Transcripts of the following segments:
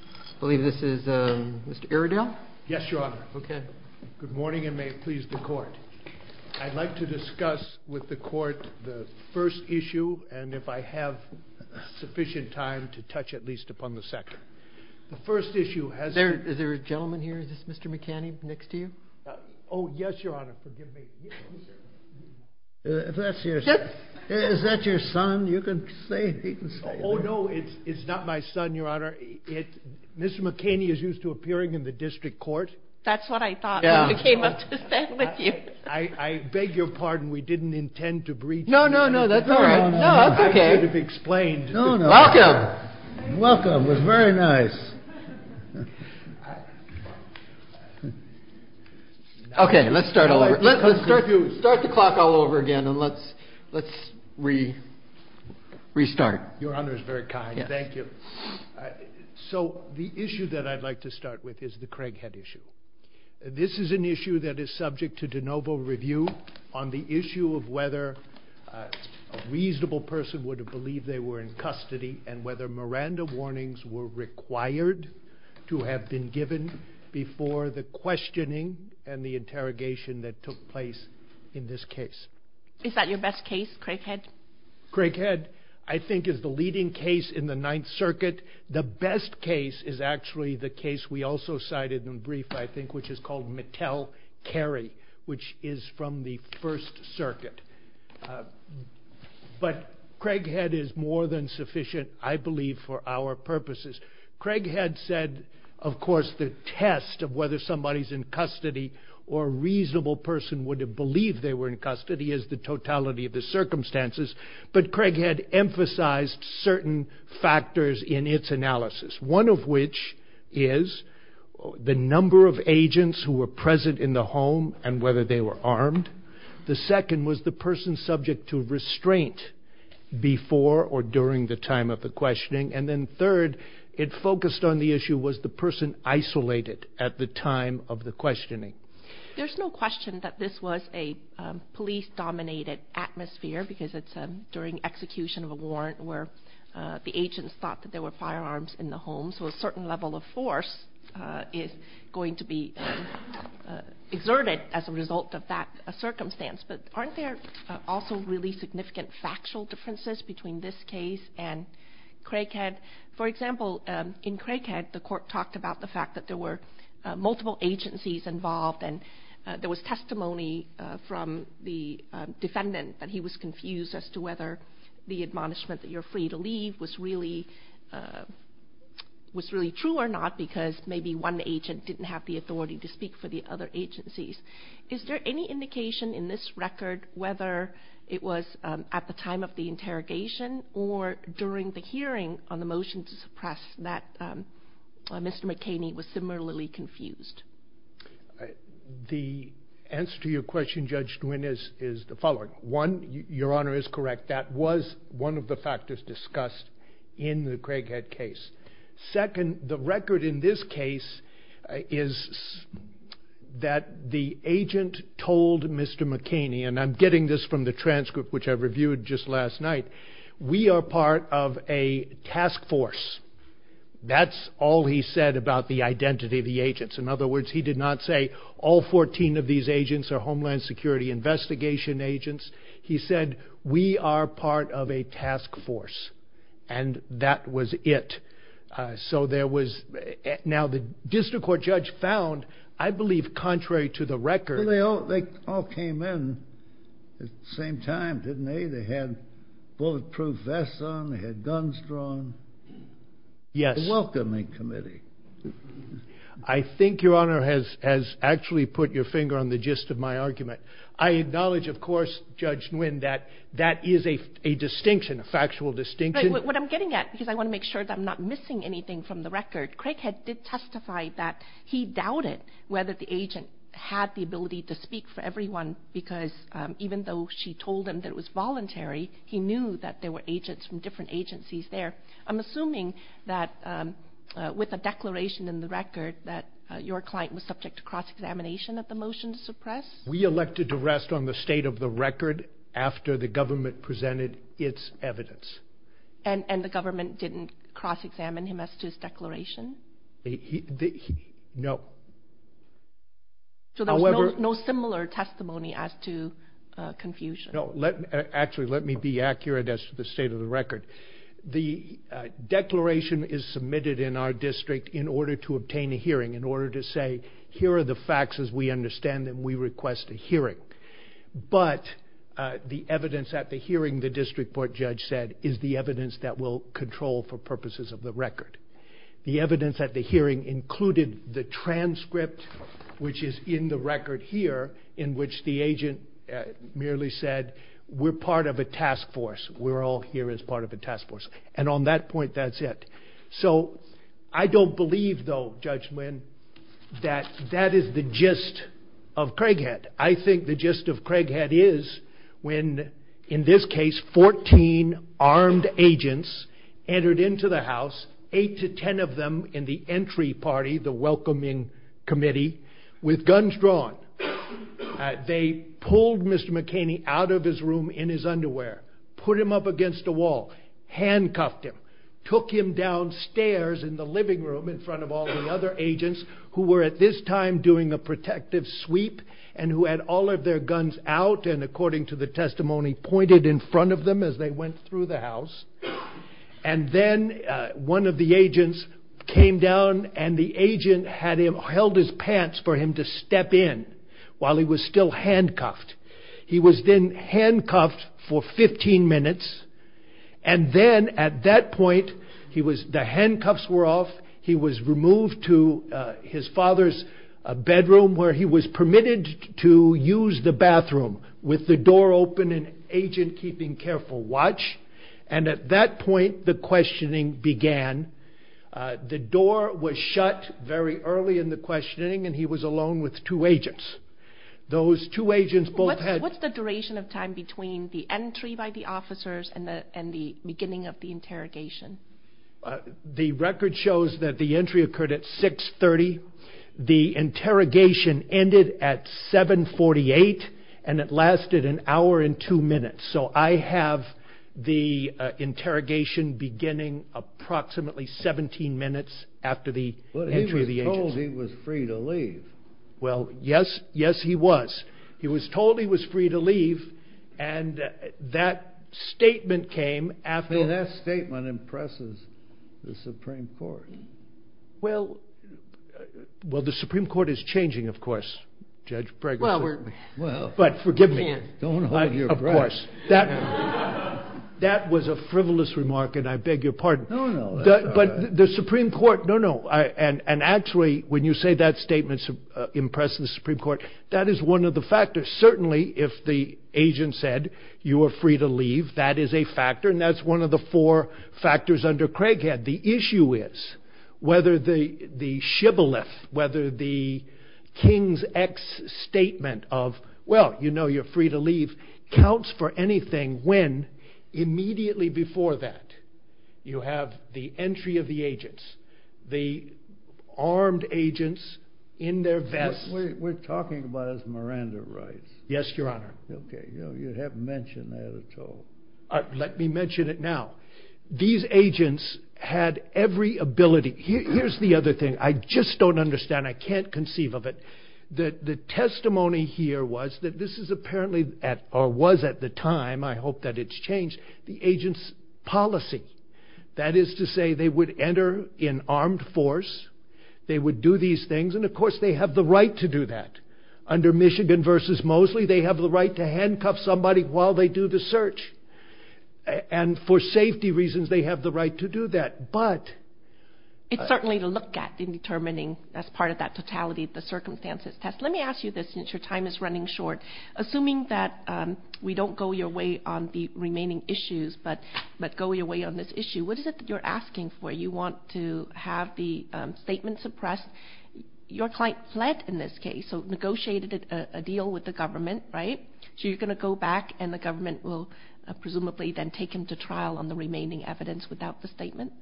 I believe this is Mr. Iredell. Yes, Your Honor. Okay. Good morning and may it please the Court. I'd like to discuss with the Court the first issue and if I have sufficient time to touch at least upon the second. The first issue has been... Is there a gentleman here? Is this Mr. McKany next to you? Oh, yes, Your Honor. Forgive me. Is that your son? You can say it. He can say it. Oh, no, it's not my son, Your Honor. Mr. McKany is used to appearing in the District Court. That's what I thought Mr. McKany must have said with you. I beg your pardon. We didn't intend to breach... No, no, no. That's all right. No, that's okay. I should have explained. Welcome. Welcome. It was very nice. Okay. Let's start all over. Let's start the clock all over again and let's restart. Your Honor is very kind. Thank you. So the issue that I'd like to start with is the Craighead issue. This is an issue that is subject to de novo review on the issue of whether a reasonable person would have believed they were in custody and whether Miranda warnings were required to have been given before the questioning and the interrogation that took place in this case. Is that your best case, Craighead? Craighead, I think, is the leading case in the Ninth Circuit. The best case is actually the case we also cited in brief, I think, which is called Mattel-Carey, which is from the First Circuit. But Craighead is more than sufficient, I believe, for our purposes. Craighead said, of course, the test of whether somebody's in custody or a reasonable person would have believed they were in custody is the totality of the circumstances, but Craighead emphasized certain factors in its analysis, one of which is the number of agents who were present in the home and whether they were armed. The second was the person subject to restraint before or during the time of the questioning. And then third, it focused on the issue, was the person isolated at the time of the questioning? There's no question that this was a police-dominated atmosphere because it's during execution of a warrant where the agents thought that there were firearms in the home. So a certain level of force is going to be exerted as a result of that circumstance. But aren't there also really significant factual differences between this case and Craighead? For example, in Craighead, the court talked about the fact that there were multiple agencies involved and there was testimony from the defendant that he was confused as to whether the admonishment that you're free to leave was really true or not because maybe one agent didn't have the authority to speak for the other agencies. Is there any indication in this record whether it was at the time of the interrogation or during the hearing on the motion to suppress that Mr. McKinney was similarly confused? The answer to your question, Judge Nguyen, is the following. One, Your Honor is correct, that was one of the factors discussed in the Craighead case. Second, the record in this case is that the agent told Mr. McKinney, and I'm getting this from the transcript which I reviewed just last night, we are part of a task force. That's all he said about the identity of the agents. In other words, he did not say all 14 of these agents are Homeland Security investigation agents. He said we are part of a task force. And that was it. So there was, now the district court judge found, I believe contrary to the record. They all came in at the same time, didn't they? They had bulletproof vests on, they had guns drawn. Yes. A welcoming committee. I think Your Honor has actually put your finger on the gist of my argument. I acknowledge, of course, Judge Nguyen, that that is a distinction, a factual distinction. But what I'm getting at, because I want to make sure that I'm not missing anything from the record, Craighead did testify that he doubted whether the agent had the ability to speak for everyone because even though she told him that it was voluntary, he knew that there were agents from different agencies there. I'm assuming that with a declaration in the record that your client was subject to cross-examination at the motion to suppress? We elected to rest on the state of the record after the government presented its evidence. And the government didn't cross-examine him as to his declaration? No. So there was no similar testimony as to confusion? No. Actually, let me be accurate as to the state of the record. Here are the facts as we understand them. We request a hearing. But the evidence at the hearing, the district court judge said, is the evidence that we'll control for purposes of the record. The evidence at the hearing included the transcript, which is in the record here, in which the agent merely said, we're part of a task force. We're all here as part of a task force. And on that point, that's it. So I don't believe, though, Judge Nguyen, that that is the gist of Craighead. I think the gist of Craighead is when, in this case, 14 armed agents entered into the house, 8 to 10 of them in the entry party, the welcoming committee, with guns drawn. They pulled Mr. McCain out of his room in his underwear, put him up against a wall, handcuffed him, took him downstairs in the living room in front of all the other agents who were at this time doing a protective sweep and who had all of their guns out and, according to the testimony, pointed in front of them as they went through the house. And then one of the agents came down, and the agent held his pants for him to step in while he was still handcuffed. He was then handcuffed for 15 minutes, and then at that point, the handcuffs were off. He was removed to his father's bedroom where he was permitted to use the bathroom with the door open and agent keeping careful watch. And at that point, the questioning began. The door was shut very early in the questioning, and he was alone with two agents. What's the duration of time between the entry by the officers and the beginning of the interrogation? The record shows that the entry occurred at 6.30. The interrogation ended at 7.48, and it lasted an hour and two minutes. So I have the interrogation beginning approximately 17 minutes after the entry of the agents. But he was told he was free to leave. Well, yes, yes, he was. He was told he was free to leave, and that statement came after. That statement impresses the Supreme Court. Well, the Supreme Court is changing, of course, Judge Bregman. But forgive me. Don't hold your breath. Of course. That was a frivolous remark, and I beg your pardon. No, no. But the Supreme Court, no, no. And actually, when you say that statement impresses the Supreme Court, that is one of the factors. Certainly, if the agent said, you are free to leave, that is a factor, and that's one of the four factors under Craighead. The issue is whether the shibboleth, whether the King's X statement of, well, you know you're free to leave, counts for anything when immediately before that you have the entry of the agents, the armed agents in their vests. We're talking about his Miranda rights. Yes, Your Honor. Okay. You haven't mentioned that at all. Let me mention it now. These agents had every ability. Here's the other thing. I just don't understand. I can't conceive of it. The testimony here was that this is apparently, or was at the time, I hope that it's changed, the agent's policy. That is to say they would enter in armed force, they would do these things, and, of course, they have the right to do that. Under Michigan v. Moseley, they have the right to handcuff somebody while they do the search. And for safety reasons, they have the right to do that. It's certainly to look at in determining as part of that totality of the circumstances test. Let me ask you this since your time is running short. Assuming that we don't go your way on the remaining issues but go your way on this issue, what is it that you're asking for? You want to have the statement suppressed. Your client fled in this case, so negotiated a deal with the government, right? So you're going to go back and the government will presumably then take him to trial on the remaining evidence without the statement,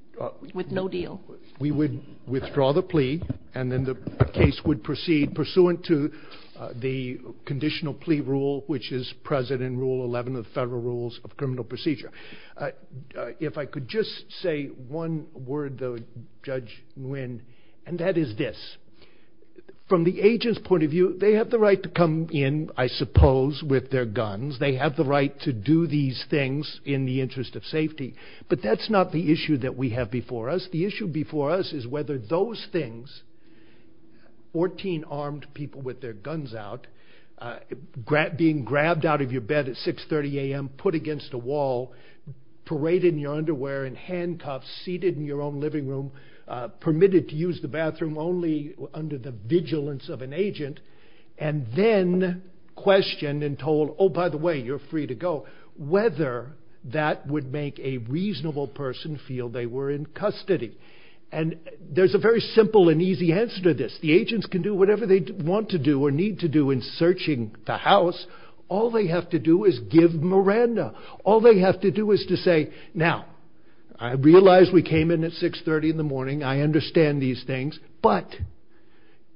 with no deal? We would withdraw the plea, and then the case would proceed pursuant to the conditional plea rule, which is present in Rule 11 of the Federal Rules of Criminal Procedure. If I could just say one word, though, Judge Nguyen, and that is this. From the agent's point of view, they have the right to come in, I suppose, with their guns. They have the right to do these things in the interest of safety. But that's not the issue that we have before us. The issue before us is whether those things, 14 armed people with their guns out, being grabbed out of your bed at 6.30 a.m., put against a wall, paraded in your underwear in handcuffs, seated in your own living room, permitted to use the bathroom only under the vigilance of an agent, and then questioned and told, oh, by the way, you're free to go, whether that would make a reasonable person feel they were in custody. And there's a very simple and easy answer to this. The agents can do whatever they want to do or need to do in searching the house. All they have to do is give Miranda. All they have to do is to say, now, I realize we came in at 6.30 in the morning. I understand these things, but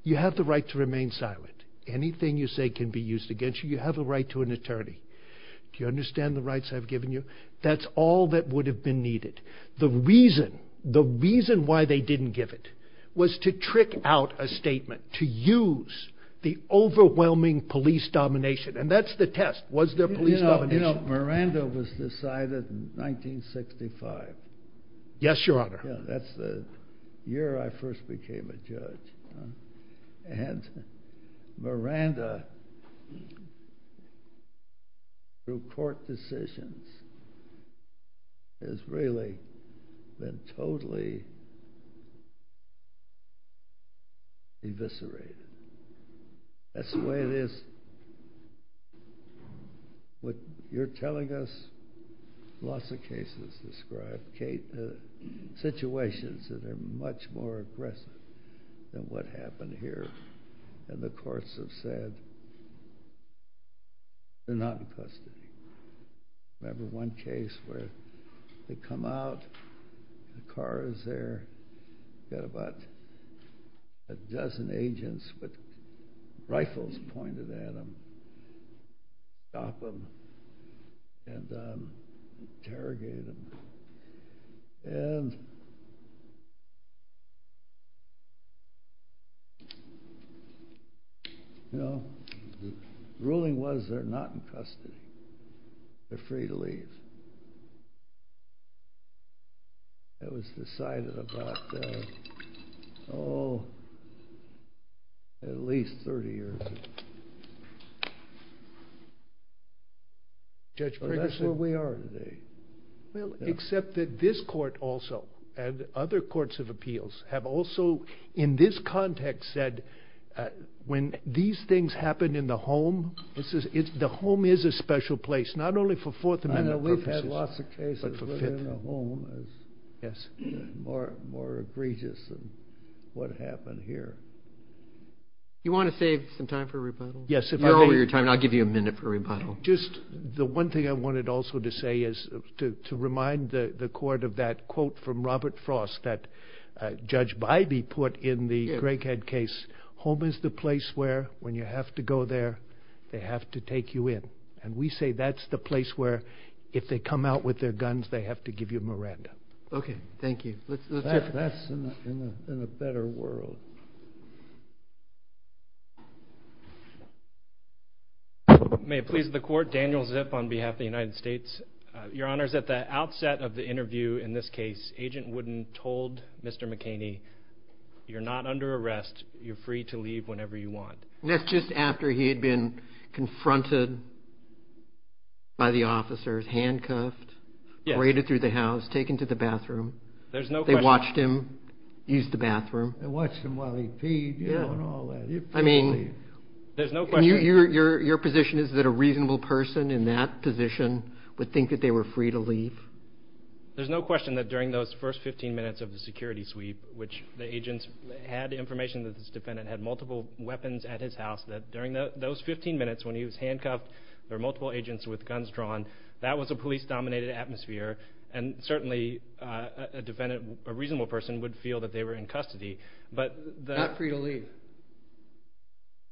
you have the right to remain silent. Anything you say can be used against you. You have the right to an attorney. Do you understand the rights I've given you? That's all that would have been needed. The reason why they didn't give it was to trick out a statement, to use the overwhelming police domination, and that's the test. Was there police domination? You know, Miranda was decided in 1965. Yes, Your Honor. That's the year I first became a judge. And Miranda, through court decisions, has really been totally eviscerated. That's the way it is. What you're telling us, lots of cases described. Situations that are much more aggressive than what happened here, and the courts have said they're not in custody. Remember one case where they come out, the car is there, got about a dozen agents with rifles pointed at them, stopped them, and interrogated them. The ruling was they're not in custody. That was decided about, oh, at least 30 years ago. That's where we are today. Well, except that this court also, and other courts of appeals, have also, in this context, said when these things happen in the home, the home is a special place, not only for Fourth Amendment purposes, but for Fifth Amendment purposes. We've had lots of cases where the home is more egregious than what happened here. You want to save some time for rebuttal? Yes, if I may. You're over your time, and I'll give you a minute for rebuttal. Just the one thing I wanted also to say is to remind the court of that quote from Robert Frost that Judge Bybee put in the Greg Head case, home is the place where, when you have to go there, they have to take you in. We say that's the place where, if they come out with their guns, they have to give you a Miranda. Okay, thank you. That's in a better world. May it please the court, Daniel Zip on behalf of the United States. Your Honor, at the outset of the interview in this case, Agent Wooden told Mr. McKaney, you're not under arrest, you're free to leave whenever you want. And that's just after he had been confronted by the officers, handcuffed, raided through the house, taken to the bathroom. They watched him use the bathroom. They watched him while he peed and all that. I mean, your position is that a reasonable person in that position would think that they were free to leave? There's no question that during those first 15 minutes of the security sweep, which the agents had information that this defendant had multiple weapons at his house, that during those 15 minutes when he was handcuffed, there were multiple agents with guns drawn, that was a police-dominated atmosphere. And certainly a defendant, a reasonable person, would feel that they were in custody. Not free to leave.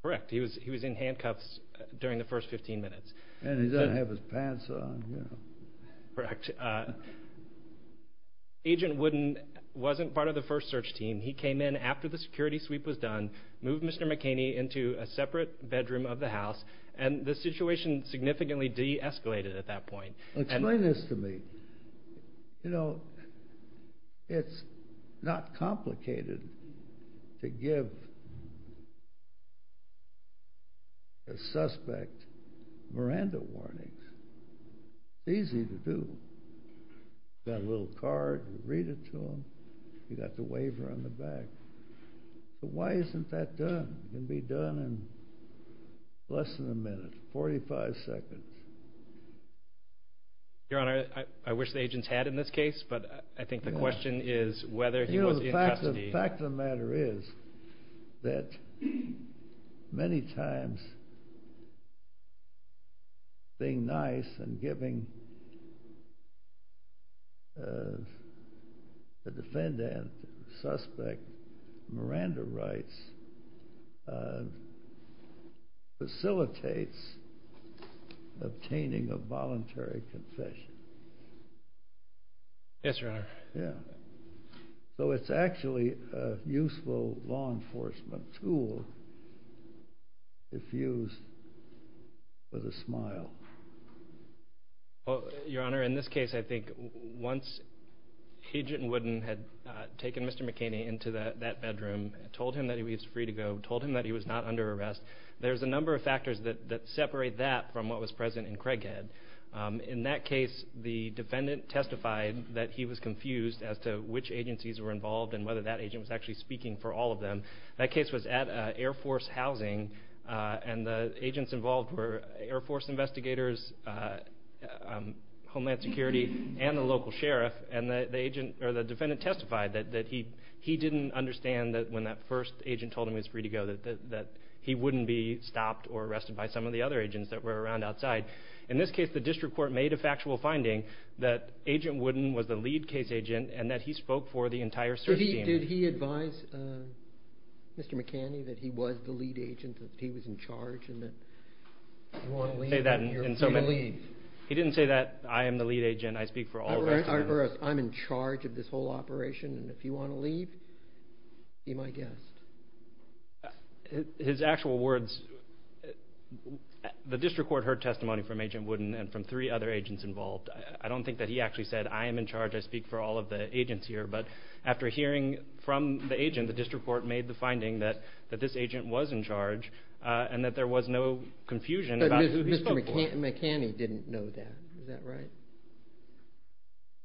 Correct. He was in handcuffs during the first 15 minutes. And he doesn't have his pants on. Correct. Agent Wooden wasn't part of the first search team. He came in after the security sweep was done, moved Mr. McKinney into a separate bedroom of the house, and the situation significantly de-escalated at that point. Explain this to me. You know, it's not complicated to give a suspect Miranda warnings. It's easy to do. You've got a little card. You read it to him. You've got the waiver on the back. But why isn't that done? It can be done in less than a minute, 45 seconds. Your Honor, I wish the agents had in this case, but I think the question is whether he was in custody. The fact of the matter is that many times, being nice and giving the defendant, the suspect, Miranda rights, facilitates obtaining a voluntary confession. Yes, Your Honor. So it's actually a useful law enforcement tool, if used with a smile. Your Honor, in this case, I think once Agent Wooden had taken Mr. McKinney into that bedroom, told him that he was free to go, told him that he was not under arrest, there's a number of factors that separate that from what was present in Craighead. In that case, the defendant testified that he was confused as to which agencies were involved and whether that agent was actually speaking for all of them. That case was at Air Force housing, and the agents involved were Air Force investigators, Homeland Security, and the local sheriff. And the defendant testified that he didn't understand when that first agent told him he was free to go that he wouldn't be stopped or arrested by some of the other agents that were around outside. In this case, the district court made a factual finding that Agent Wooden was the lead case agent and that he spoke for the entire search team. Did he advise Mr. McKinney that he was the lead agent, that he was in charge, and that he was free to leave? He didn't say that, I am the lead agent, I speak for all of us. I'm in charge of this whole operation, and if you want to leave, be my guest. His actual words... The district court heard testimony from Agent Wooden and from three other agents involved. I don't think that he actually said, I am in charge, I speak for all of the agents here, but after hearing from the agent, the district court made the finding that this agent was in charge and that there was no confusion about who he spoke for. But Mr. McKinney didn't know that, is that right?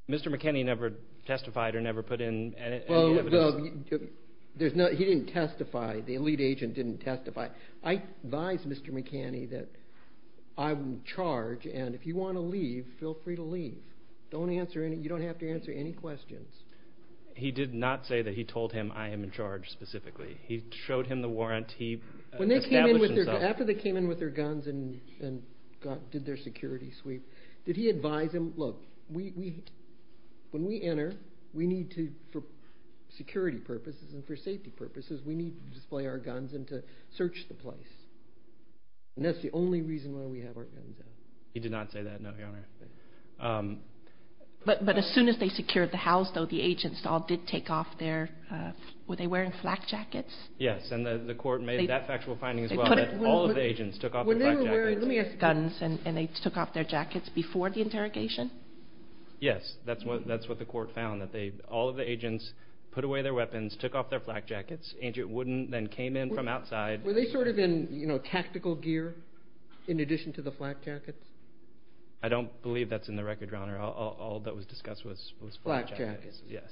Mr. McKinney never testified or never put in any evidence. He didn't testify, the lead agent didn't testify. I advised Mr. McKinney that I'm in charge and if you want to leave, feel free to leave. You don't have to answer any questions. He did not say that he told him, I am in charge, specifically. He showed him the warrant, he established himself. After they came in with their guns and did their security sweep, did he advise him, look, when we enter, we need to, for security purposes and for safety purposes, we need to display our guns and to search the place. And that's the only reason why we have our guns out. He did not say that, no, Your Honor. But as soon as they secured the house, though, the agents all did take off their, were they wearing flak jackets? Yes, and the court made that factual finding as well, that all of the agents took off their flak jackets. When they were wearing guns and they took off their jackets before the interrogation? Yes, that's what the court found, that all of the agents put away their weapons, took off their flak jackets, and it wouldn't then came in from outside. Were they sort of in tactical gear in addition to the flak jackets? I don't believe that's in the record, Your Honor. All that was discussed was flak jackets, yes.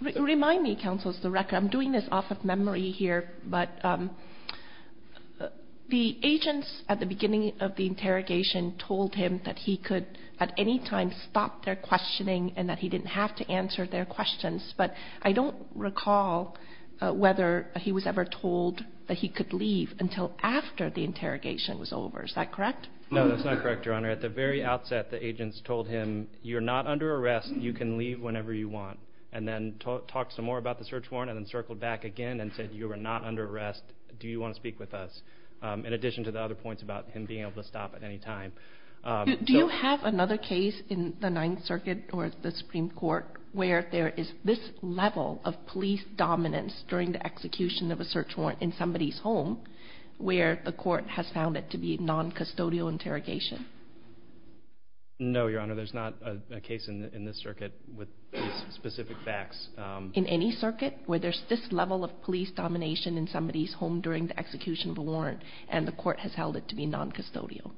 Remind me, Counsel, of the record. I'm doing this off of memory here, but the agents at the beginning of the interrogation told him that he could at any time stop their questioning and that he didn't have to answer their questions. But I don't recall whether he was ever told that he could leave until after the interrogation was over. Is that correct? No, that's not correct, Your Honor. At the very outset, the agents told him, you're not under arrest, you can leave whenever you want, and then talked some more about the search warrant and then circled back again and said, you are not under arrest, do you want to speak with us? In addition to the other points about him being able to stop at any time. Do you have another case in the Ninth Circuit or the Supreme Court where there is this level of police dominance during the execution of a search warrant in somebody's home where the court has found it to be non-custodial interrogation? No, Your Honor, there's not a case in this circuit with specific facts. In any circuit where there's this level of police domination in somebody's home during the execution of a warrant and the court has held it to be non-custodial?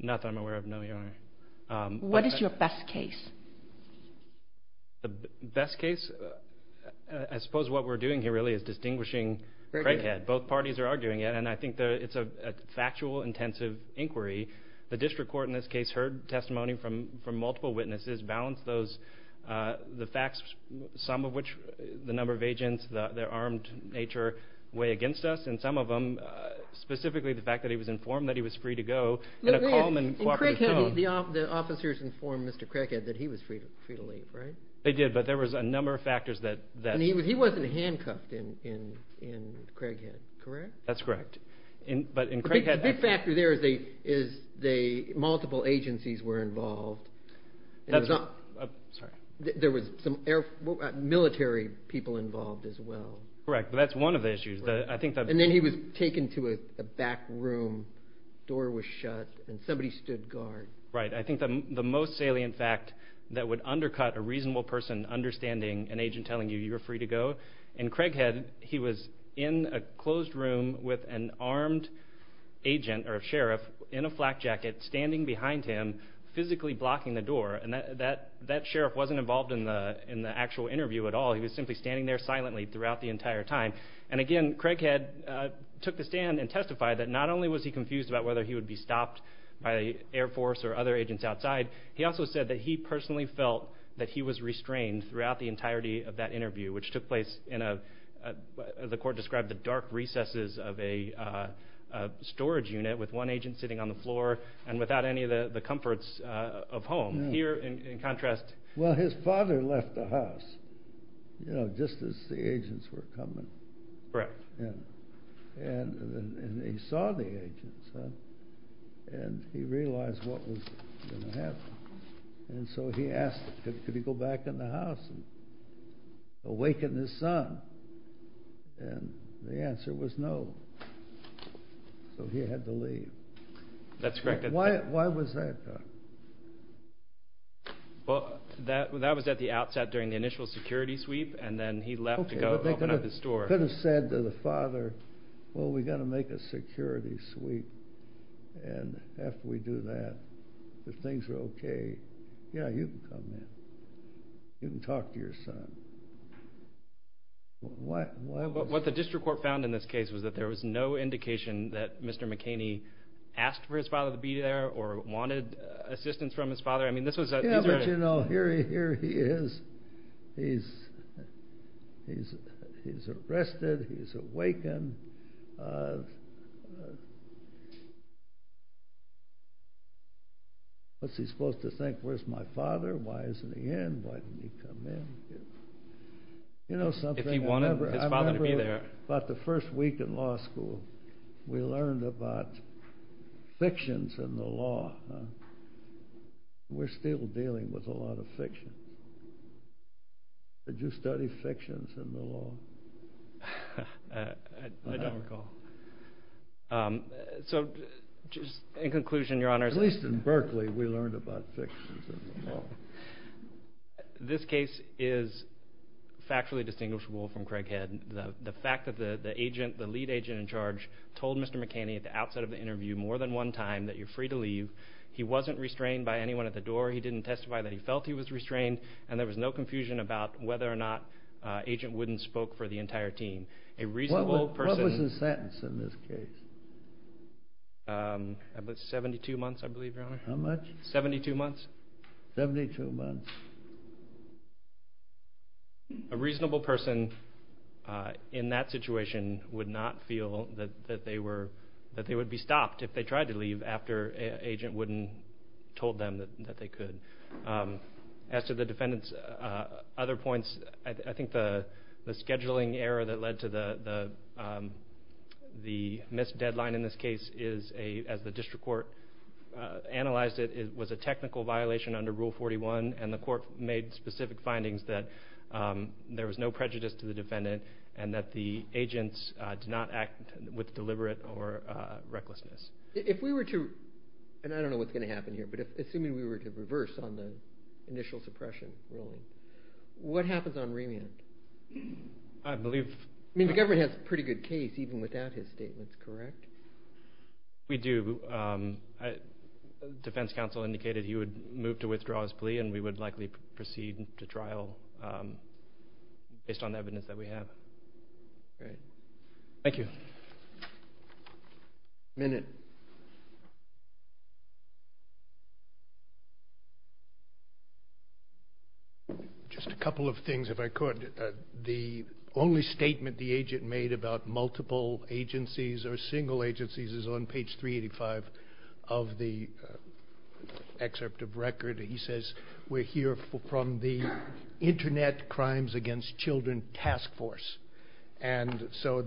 Not that I'm aware of, no, Your Honor. What is your best case? The best case? I suppose what we're doing here really is distinguishing Craighead. Both parties are arguing it, and I think it's a factual, intensive inquiry. The district court in this case heard testimony from multiple witnesses, balanced the facts, some of which, the number of agents, their armed nature way against us, and some of them, specifically the fact that he was informed that he was free to go in a calm and cooperative tone. The officers informed Mr. Craighead that he was free to leave, right? They did, but there was a number of factors that... And he wasn't handcuffed in Craighead, correct? That's correct, but in Craighead... A big factor there is multiple agencies were involved. Sorry. There was some military people involved as well. Correct, but that's one of the issues. And then he was taken to a back room, door was shut, and somebody stood guard. Right, I think the most salient fact that would undercut a reasonable person understanding an agent telling you you were free to go, in Craighead he was in a closed room with an armed agent or sheriff in a flak jacket standing behind him, physically blocking the door. And that sheriff wasn't involved in the actual interview at all. He was simply standing there silently throughout the entire time. And again, Craighead took the stand and testified that not only was he confused about whether he would be stopped by Air Force or other agents outside, he also said that he personally felt that he was restrained throughout the entirety of that interview, which took place in a... sitting on the floor and without any of the comforts of home. Here, in contrast... Well, his father left the house just as the agents were coming. Correct. And he saw the agents and he realized what was going to happen. And so he asked, could he go back in the house and awaken his son? And the answer was no. So he had to leave. That's correct. Why was that? Well, that was at the outset during the initial security sweep, and then he left to go open up his store. Okay, but they could have said to the father, well, we've got to make a security sweep, and after we do that, if things are okay, yeah, you can come in. You can talk to your son. What the district court found in this case was that there was no indication that Mr. McKinney asked for his father to be there or wanted assistance from his father. Yeah, but, you know, here he is. He's arrested. He's awakened. What's he supposed to think? Where's my father? Why isn't he in? Why didn't he come in? If he wanted his father to be there. I remember about the first week in law school, we learned about fictions in the law. We're still dealing with a lot of fiction. Did you study fictions in the law? I don't recall. So in conclusion, Your Honors. At least in Berkeley, we learned about fictions in the law. This case is factually distinguishable from Craig Head. The fact that the lead agent in charge told Mr. McKinney at the outset of the interview more than one time that you're free to leave. He wasn't restrained by anyone at the door. He didn't testify that he felt he was restrained, and there was no confusion about whether or not Agent Wooden spoke for the entire team. What was the sentence in this case? It was 72 months, I believe, Your Honor. How much? Seventy-two months. Seventy-two months. A reasonable person in that situation would not feel that they would be stopped if they tried to leave after Agent Wooden told them that they could. As to the defendant's other points, I think the scheduling error that led to the missed deadline in this case as the district court analyzed it was a technical violation under Rule 41, and the court made specific findings that there was no prejudice to the defendant and that the agents did not act with deliberate or recklessness. If we were to, and I don't know what's going to happen here, but assuming we were to reverse on the initial suppression ruling, what happens on remand? I believe... I mean, the government has a pretty good case even without his statements, correct? We do. Defense counsel indicated he would move to withdraw his plea and we would likely proceed to trial based on evidence that we have. Great. Thank you. A minute. Just a couple of things, if I could. The only statement the agent made about multiple agencies or single agencies is on page 385 of the excerpt of record. He says, We're here from the Internet Crimes Against Children Task Force. And so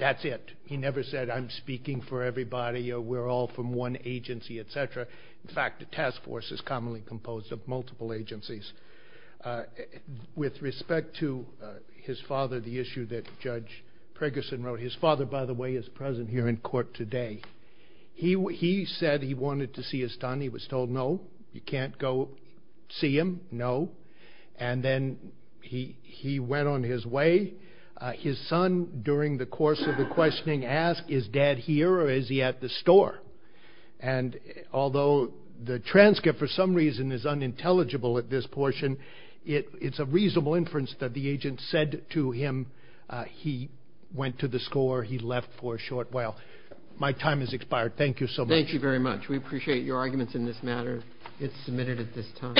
that's it. He never said, I'm speaking for everybody or we're all from one agency, et cetera. In fact, the task force is commonly composed of multiple agencies. With respect to his father, the issue that Judge Preggerson wrote, his father, by the way, is present here in court today. He said he wanted to see his son. He was told, no, you can't go see him, no. And then he went on his way. His son, during the course of the questioning, asked, is dad here or is he at the store? And although the transcript, for some reason, is unintelligible at this portion, it's a reasonable inference that the agent said to him he went to the store, he left for a short while. My time has expired. Thank you so much. Thank you very much. We appreciate your arguments in this matter. It's submitted at this time.